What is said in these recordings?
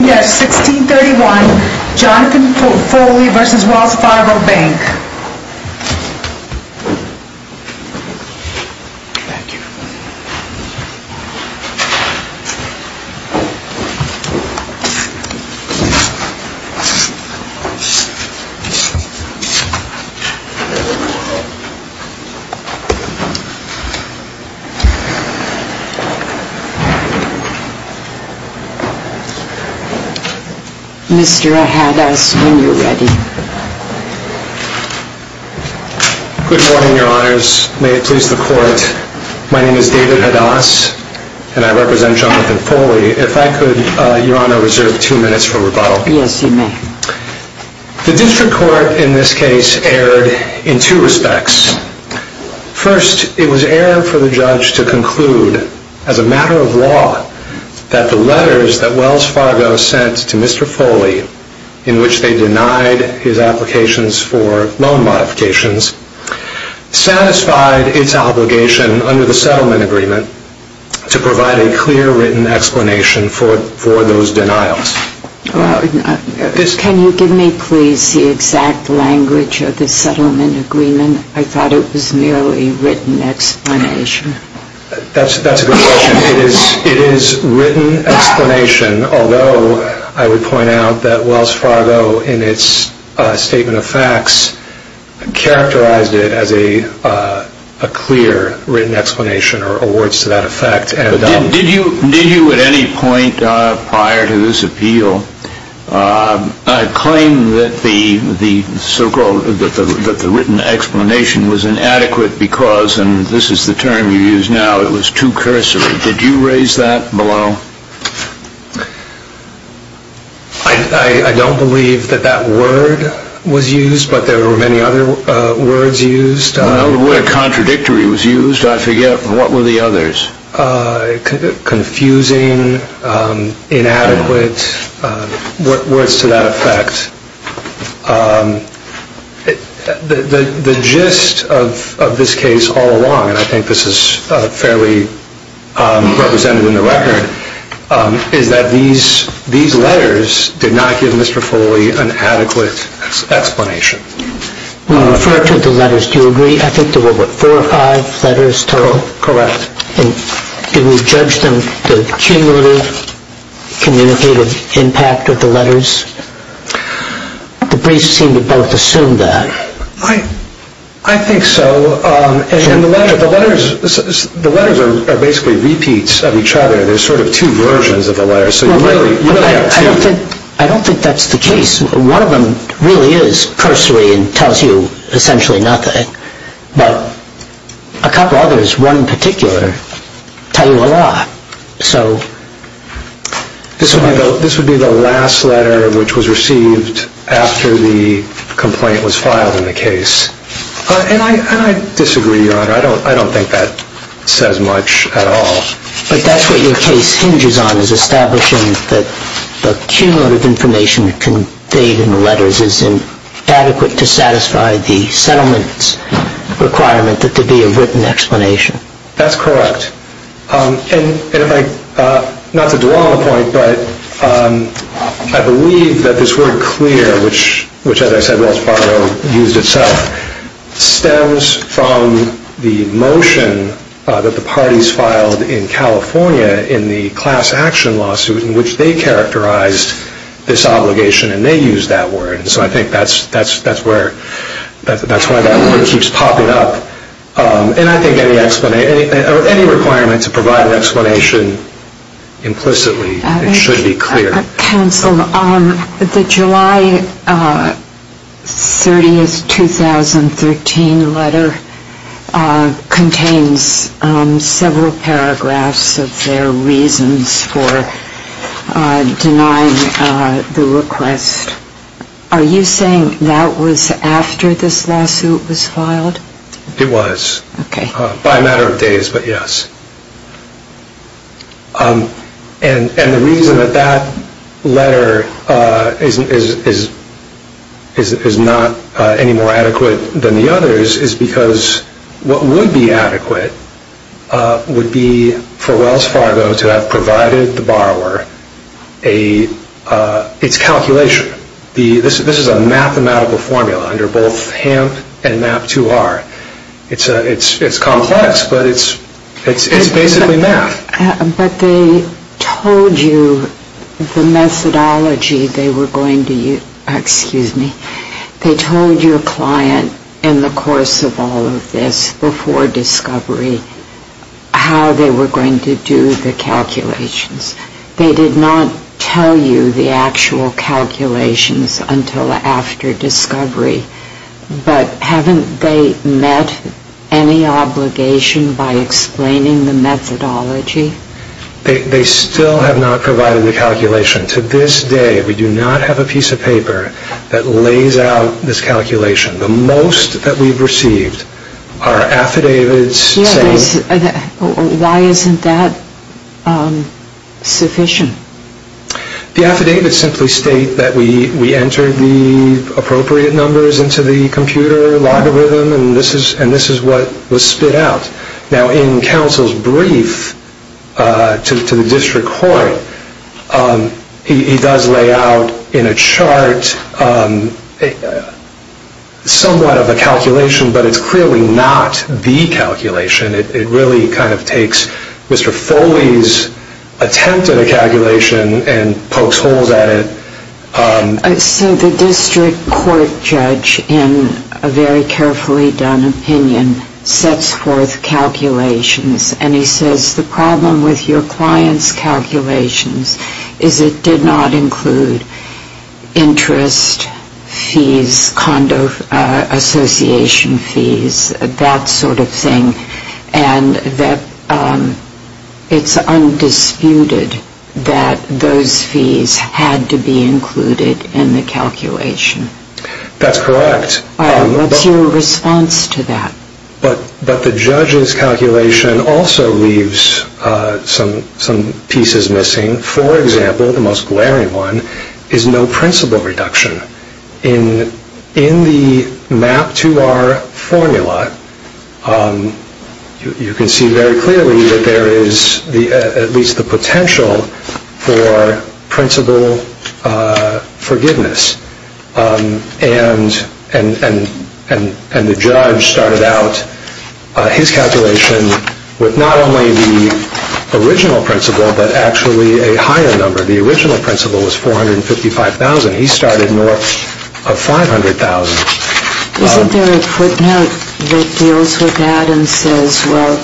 Yes, 1631, Jonathan Foley v. Wells Fargo Bank. Mr. Hadass, when you're ready. Good morning, Your Honors. May it please the Court, my name is David Hadass and I represent Jonathan Foley. If I could, Your Honor, reserve two minutes for rebuttal. Yes, you may. The District Court in this case erred in two respects. First, it was error for the judge to conclude, as a matter of law, that the letters that Wells Fargo sent to Mr. Foley, in which they denied his applications for loan modifications, satisfied its obligation under the settlement agreement to provide a clear written explanation for those denials. Can you give me, please, the exact language of the settlement agreement? I thought it was merely written explanation. That's a good question. It is written explanation, although I would point out that Wells Fargo, in its statement of facts, characterized it as a clear written explanation or words to that effect. Did you at any point prior to this appeal claim that the written explanation was inadequate because, and this is the term you use now, it was too cursory? Did you raise that below? I don't believe that that word was used, but there were many other words used. Well, the word contradictory was used, I forget, and what were the others? Confusing, inadequate, words to that effect. The gist of this case all along, and I think this is fairly represented in the record, is that these letters did not give Mr. Foley an adequate explanation. When you refer to the letters, do you agree? I think there were, what, four or five letters total? Correct. And did we judge them, the cumulative communicative impact of the letters? The briefs seem to both assume that. I think so, and the letters are basically repeats of each other. They're sort of two versions of the letters, so you really have two. I don't think that's the case. One of them really is cursory and tells you essentially nothing, but a couple others, one in particular, tell you a lot. This would be the last letter which was received after the complaint was filed in the case, and I disagree, Your Honor. I don't think that says much at all. But that's what your case hinges on, is establishing that the cumulative information conveyed in the letters is inadequate to satisfy the settlement requirement that there be a written explanation. That's correct. And if I, not to dwell on the point, but I believe that this word clear, which, as I said, Wells Fargo used itself, stems from the motion that the parties filed in California in the class action lawsuit in which they characterized this obligation, and they used that word. So I think that's why that word keeps popping up. And I think any requirement to provide an explanation implicitly should be clear. Counsel, the July 30, 2013 letter contains several paragraphs of their reasons for denying the request. Are you saying that was after this lawsuit was filed? It was. Okay. By a matter of days, but yes. And the reason that that letter is not any more adequate than the others is because what would be adequate would be for Wells Fargo to have provided the borrower its calculation. This is a mathematical formula under both HAMP and MAP2R. It's complex, but it's basically math. But they told you the methodology they were going to use. Excuse me. They told your client in the course of all of this, before discovery, how they were going to do the calculations. They did not tell you the actual calculations until after discovery. But haven't they met any obligation by explaining the methodology? They still have not provided the calculation. To this day, we do not have a piece of paper that lays out this calculation. The most that we've received are affidavits saying... Why isn't that sufficient? The affidavits simply state that we entered the appropriate numbers into the computer logarithm, and this is what was spit out. Now, in counsel's brief to the district court, he does lay out in a chart somewhat of a calculation, but it's clearly not the calculation. It really kind of takes Mr. Foley's attempt at a calculation and pokes holes at it. So the district court judge, in a very carefully done opinion, sets forth calculations, and he says the problem with your client's calculations is it did not include interest fees, condo association fees, that sort of thing, and that it's undisputed that those fees had to be included in the calculation. That's correct. What's your response to that? But the judge's calculation also leaves some pieces missing. For example, the most glaring one is no principle reduction. In the MAP2R formula, you can see very clearly that there is at least the potential for principle forgiveness, and the judge started out his calculation with not only the original principle, but actually a higher number. The original principle was $455,000. He started north of $500,000. Isn't there a footnote that deals with that and says, well,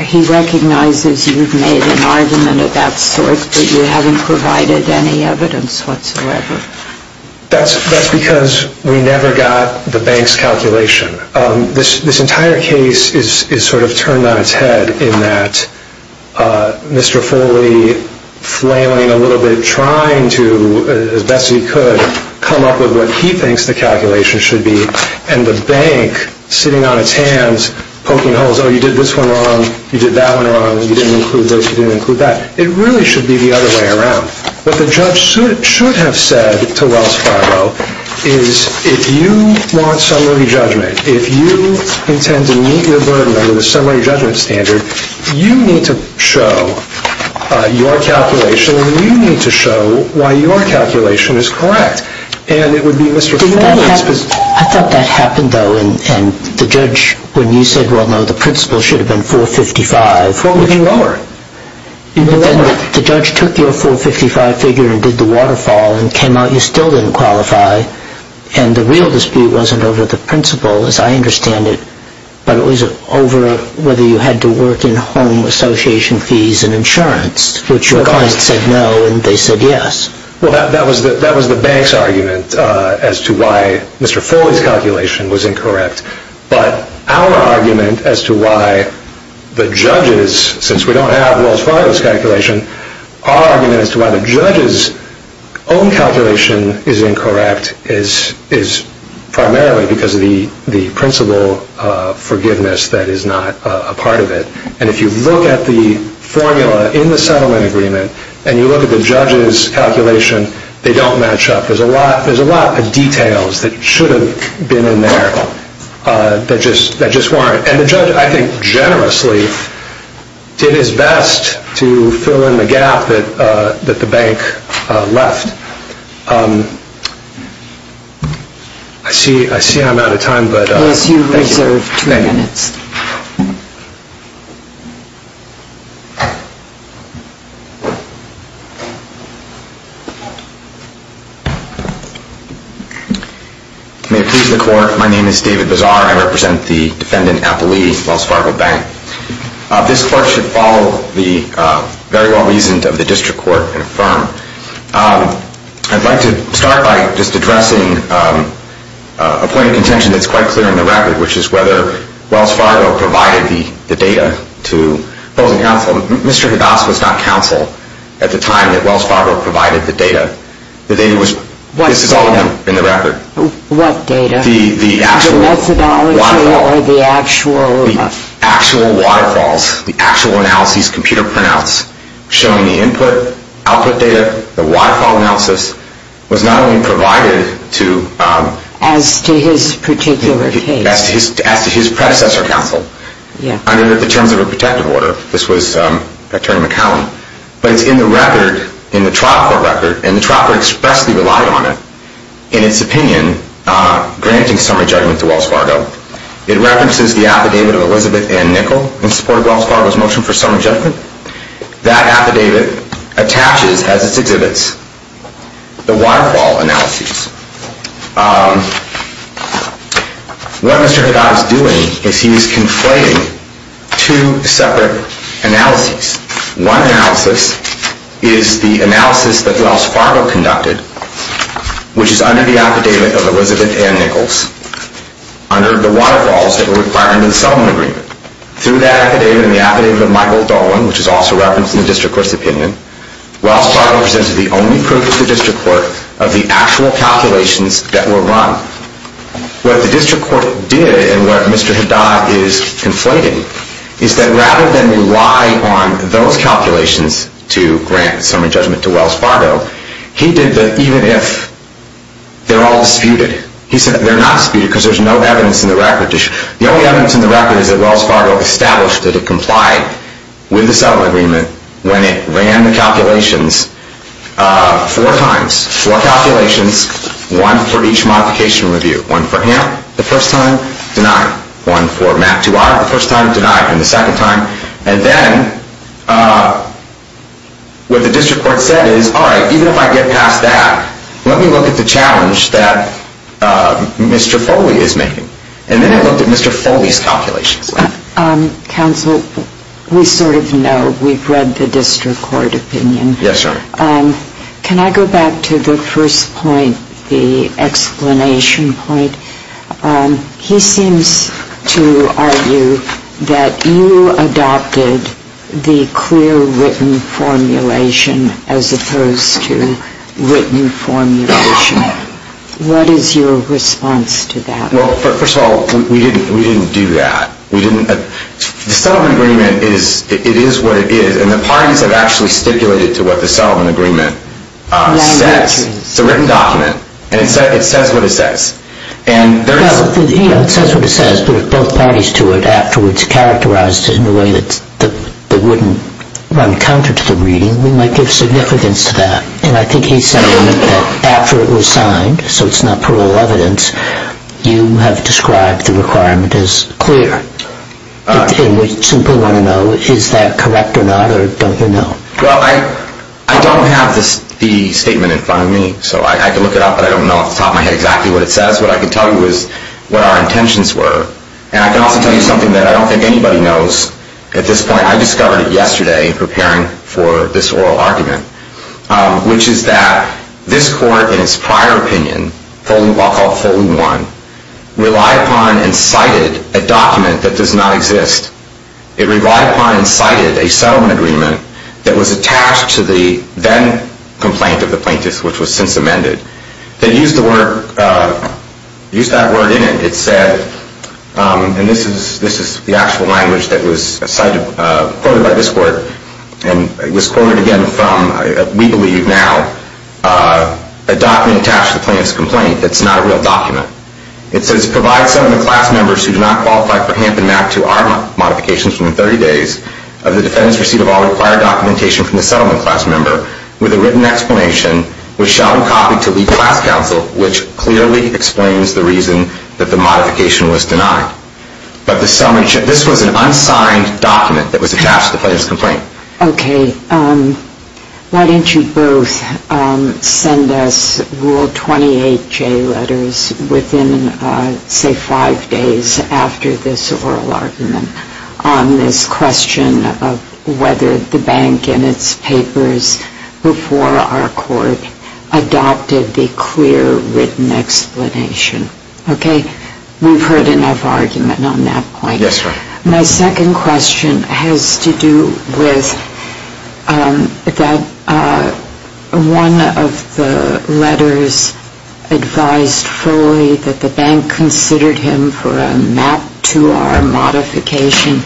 He recognizes you've made an argument of that sort, but you haven't provided any evidence whatsoever. That's because we never got the bank's calculation. This entire case is sort of turned on its head in that Mr. Foley, flailing a little bit, trying to, as best he could, come up with what he thinks the calculation should be, and the bank sitting on its hands poking holes, oh, you did this one wrong, you did that one wrong, you didn't include this, you didn't include that. It really should be the other way around. What the judge should have said to Wells Fargo is, if you want summary judgment, if you intend to meet your burden under the summary judgment standard, you need to show your calculation and you need to show why your calculation is correct. I thought that happened, though, and the judge, when you said, well, no, the principal should have been $455,000. Well, we can lower it. The judge took your $455,000 figure and did the waterfall and came out you still didn't qualify, and the real dispute wasn't over the principal, as I understand it, but it was over whether you had to work in home association fees and insurance, which your client said no and they said yes. Well, that was the bank's argument as to why Mr. Foley's calculation was incorrect, but our argument as to why the judge's, since we don't have Wells Fargo's calculation, our argument as to why the judge's own calculation is incorrect is primarily because of the principal forgiveness that is not a part of it. And if you look at the formula in the settlement agreement and you look at the judge's calculation, they don't match up. There's a lot of details that should have been in there that just weren't. And the judge, I think, generously did his best to fill in the gap that the bank left. I see I'm out of time, but thank you. You have two minutes. May it please the court. My name is David Bazar. I represent the defendant, Appley, Wells Fargo Bank. This court should follow the very well reasoned of the district court and affirm. I'd like to start by just addressing a point of contention that's quite clear in the record, which is whether Wells Fargo provided the data to closing counsel. Mr. Hedas was not counsel at the time that Wells Fargo provided the data. The data was, this is all in the record. What data? The actual waterfalls. The methodology or the actual? The actual waterfalls, the actual analysis, computer printouts, showing the input, output data, the waterfall analysis was not only provided to. As to his particular case. As to his predecessor counsel. Yeah. Under the terms of a protective order. This was Victoria McCallum. But it's in the record, in the trial court record, and the trial court expressly relied on it. In its opinion, granting summary judgment to Wells Fargo, it references the affidavit of Elizabeth Ann Nichol in support of Wells Fargo's motion for summary judgment. That affidavit attaches, as it exhibits, the waterfall analysis. What Mr. Hedas is doing is he is conflating two separate analyses. One analysis is the analysis that Wells Fargo conducted, which is under the affidavit of Elizabeth Ann Nichols, under the waterfalls that were required under the settlement agreement. Through that affidavit and the affidavit of Michael Dolan, which is also referenced in the district court's opinion, Wells Fargo presented the only proof to the district court of the actual calculations that were run. What the district court did, and what Mr. Hedas is conflating, is that rather than rely on those calculations to grant summary judgment to Wells Fargo, he did the even if, they're all disputed. He said they're not disputed because there's no evidence in the record. The only evidence in the record is that Wells Fargo established that it complied with the settlement agreement when it ran the calculations four times. Four calculations, one for each modification review. One for him the first time, denied. One for Matt Duarte the first time, denied. And the second time. And then what the district court said is, all right, even if I get past that, let me look at the challenge that Mr. Foley is making. And then it looked at Mr. Foley's calculations. Counsel, we sort of know. We've read the district court opinion. Yes, sir. Can I go back to the first point, the explanation point? He seems to argue that you adopted the clear written formulation as opposed to written formulation. What is your response to that? Well, first of all, we didn't do that. The settlement agreement, it is what it is. And the parties have actually stipulated to what the settlement agreement says. It's a written document, and it says what it says. It says what it says, but if both parties to it afterwards characterized it in a way that wouldn't run counter to the reading, we might give significance to that. And I think he's saying that after it was signed, so it's not parole evidence, you have described the requirement as clear. And we simply want to know, is that correct or not, or don't you know? Well, I don't have the statement in front of me, so I can look it up, but I don't know off the top of my head exactly what it says. What I can tell you is what our intentions were. And I can also tell you something that I don't think anybody knows at this point. I discovered it yesterday in preparing for this oral argument, which is that this court in its prior opinion, I'll call it Folding 1, relied upon and cited a document that does not exist. It relied upon and cited a settlement agreement that was attached to the then complaint of the plaintiff, which was since amended, that used the word, used that word in it. It said, and this is the actual language that was cited, quoted by this court, and it was quoted again from, we believe now, a document attached to the plaintiff's complaint that's not a real document. It says, provide some of the class members who do not qualify for HAMP and MAC2R modifications within 30 days of the defendant's receipt of all required documentation from the settlement class member with a written explanation which shall be copied to League Class Counsel, which clearly explains the reason that the modification was denied. But this was an unsigned document that was attached to the plaintiff's complaint. Okay. Why don't you both send us Rule 28J letters within, say, five days after this oral argument on this question of whether the bank in its papers before our court adopted the clear written explanation. Okay? We've heard enough argument on that point. Yes, Your Honor. My second question has to do with that one of the letters advised fully that the bank considered him for a MAC2R modification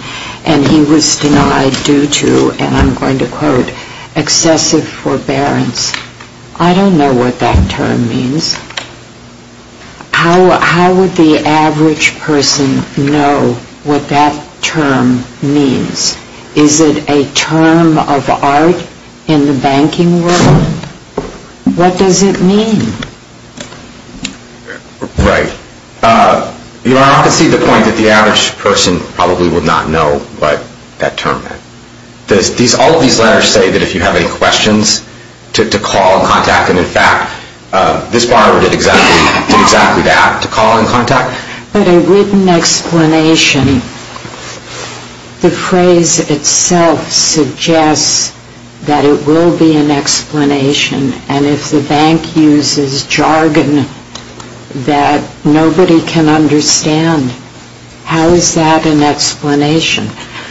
and he was denied due to, and I'm going to quote, excessive forbearance. I don't know what that term means. How would the average person know what that term means? Is it a term of art in the banking world? What does it mean? Right. Your Honor, I can see the point that the average person probably would not know what that term meant. All of these letters say that if you have any questions, to call and contact. And, in fact, this borrower did exactly that, to call and contact. But a written explanation, the phrase itself suggests that it will be an explanation. And if the bank uses jargon that nobody can understand, how is that an explanation?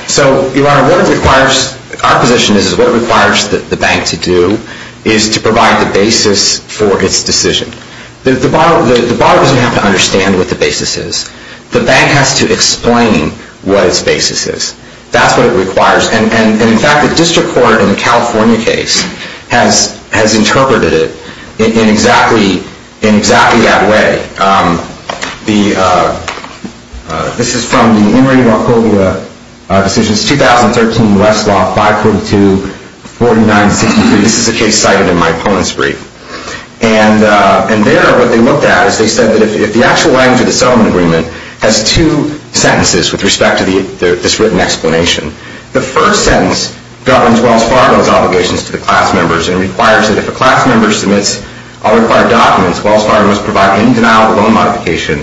So, Your Honor, what it requires, our position is what it requires the bank to do is to provide the basis for its decision. The borrower doesn't have to understand what the basis is. The bank has to explain what its basis is. That's what it requires. And, in fact, the district court in the California case has interpreted it in exactly that way. This is from the Emory-Wachovia Decisions, 2013 U.S. Law 542-4963. This is a case cited in my opponent's brief. And there what they looked at is they said that if the actual language of the settlement agreement has two sentences with respect to this written explanation, the first sentence governs Wells Fargo's obligations to the class members and requires that if a class member submits all required documents, Wells Fargo must provide any denial of loan modification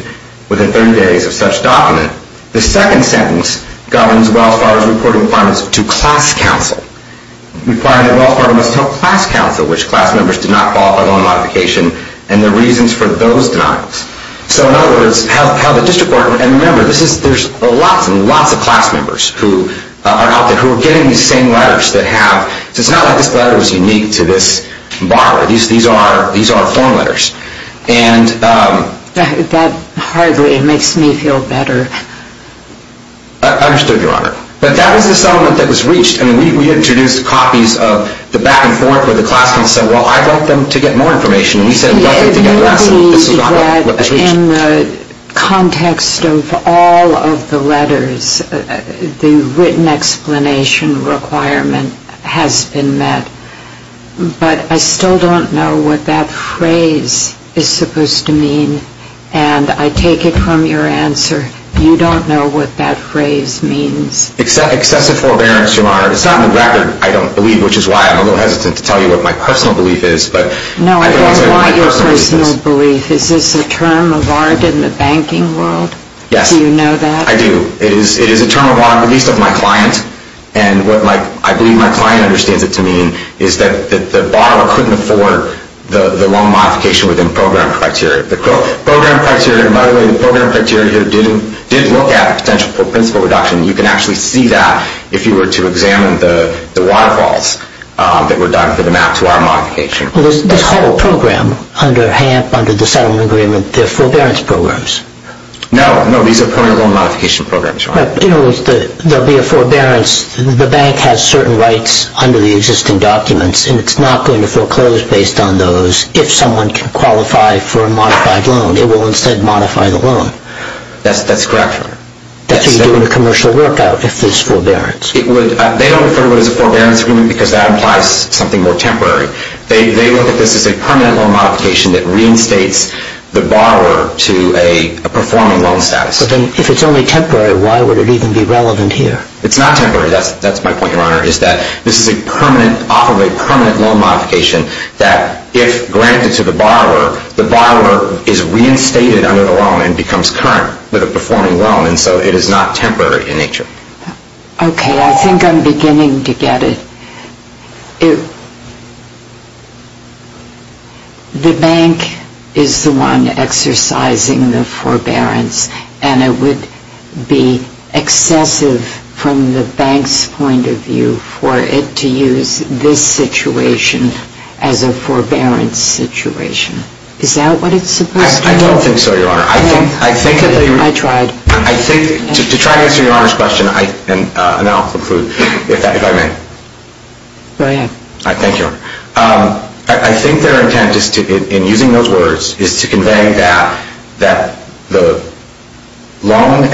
within 30 days of such document. The second sentence governs Wells Fargo's reporting requirements to class counsel, requiring that Wells Fargo must tell class counsel which class members did not qualify loan modification and the reasons for those denials. So, in other words, how the district court, and remember, there's lots and lots of class members who are out there who are getting these same letters that have, so it's not like this letter was unique to this borrower. These are form letters. And... That hardly makes me feel better. I understood, Your Honor. But that was the settlement that was reached. I mean, we introduced copies of the back and forth where the class council said, well, I want them to get more information. And we said, we want them to get less. I believe that in the context of all of the letters, the written explanation requirement has been met. But I still don't know what that phrase is supposed to mean. And I take it from your answer, you don't know what that phrase means. Excessive forbearance, Your Honor. It's not on the record, I don't believe, which is why I'm a little hesitant to tell you what my personal belief is. No, I don't want your personal belief. Is this a term of art in the banking world? Yes. Do you know that? I do. It is a term of art, at least of my client. And what I believe my client understands it to mean is that the borrower couldn't afford the wrong modification within program criteria. The program criteria, by the way, the program criteria did look at potential principal reduction. And you can actually see that if you were to examine the waterfalls that were done for the map to our modification. Well, this whole program under HAMP, under the settlement agreement, they're forbearance programs. No, no, these are permanent loan modification programs, Your Honor. In other words, there will be a forbearance. The bank has certain rights under the existing documents, and it's not going to foreclose based on those if someone can qualify for a modified loan. It will instead modify the loan. That's correct, Your Honor. That's what you do in a commercial workout if there's forbearance. They don't refer to it as a forbearance agreement because that implies something more temporary. They look at this as a permanent loan modification that reinstates the borrower to a performing loan status. But then if it's only temporary, why would it even be relevant here? It's not temporary. That's my point, Your Honor, is that this is off of a permanent loan modification that if granted to the borrower, the borrower is reinstated under the loan and becomes current with a performing loan. And so it is not temporary in nature. Okay. I think I'm beginning to get it. The bank is the one exercising the forbearance, and it would be excessive from the bank's point of view for it to use this situation as a forbearance situation. Is that what it's supposed to do? I don't think so, Your Honor. I think that you're... I tried. To try to answer Your Honor's question, and I'll conclude if I may. Go ahead. Thank you, Your Honor. I think their intent in using those words is to convey that the loan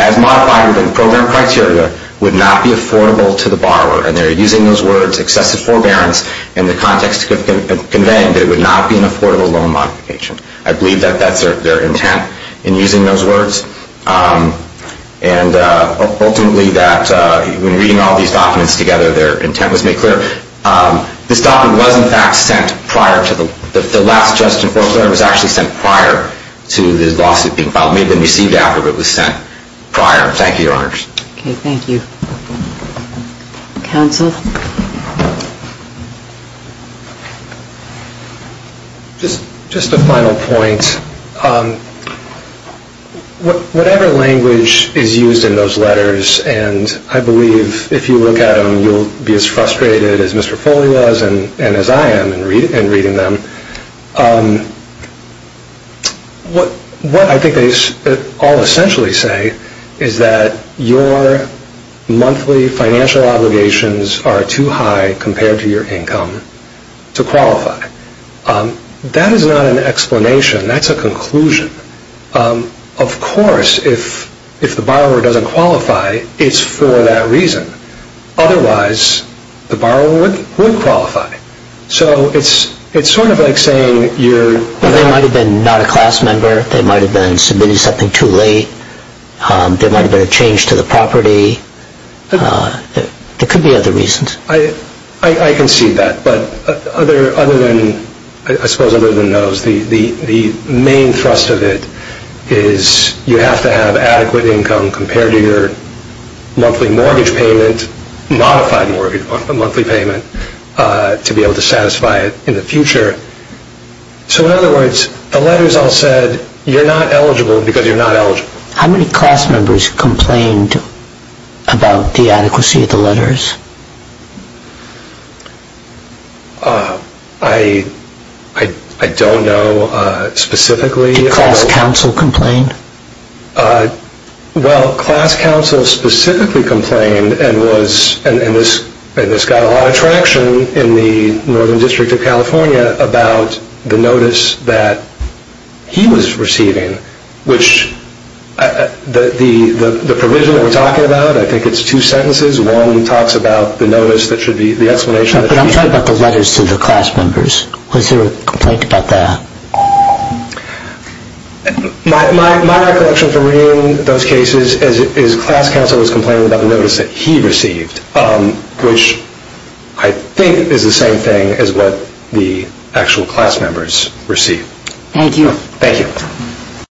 as modified within the program criteria would not be affordable to the borrower. And they're using those words, excessive forbearance, in the context of conveying that it would not be an affordable loan modification. I believe that that's their intent. In using those words, and ultimately that when reading all these documents together, their intent was made clear. This document was, in fact, sent prior to the... The last adjustment for clearance was actually sent prior to the lawsuit being filed. It may have been received after, but it was sent prior. Thank you, Your Honor. Okay. Thank you. Counsel? Just a final point. Whatever language is used in those letters, and I believe if you look at them, you'll be as frustrated as Mr. Foley was and as I am in reading them, what I think they all essentially say is that your monthly financial obligations are too high compared to your income to qualify. That is not an explanation. That's a conclusion. Of course, if the borrower doesn't qualify, it's for that reason. Otherwise, the borrower would qualify. So it's sort of like saying you're... They might have been not a class member. They might have been submitting something too late. There might have been a change to the property. There could be other reasons. I concede that. But other than, I suppose other than those, the main thrust of it is you have to have adequate income compared to your monthly mortgage payment, modified monthly payment, to be able to satisfy it in the future. So in other words, the letters all said you're not eligible because you're not eligible. How many class members complained about the adequacy of the letters? I don't know specifically. Did class council complain? Well, class council specifically complained and this got a lot of traction in the Northern District of California about the notice that he was receiving, which the provision that we're talking about, I think it's two sentences. One talks about the notice that should be... But I'm talking about the letters to the class members. Was there a complaint about that? My recollection from reading those cases is class council was complaining about the notice that he received, which I think is the same thing as what the actual class members received. Thank you. Thank you.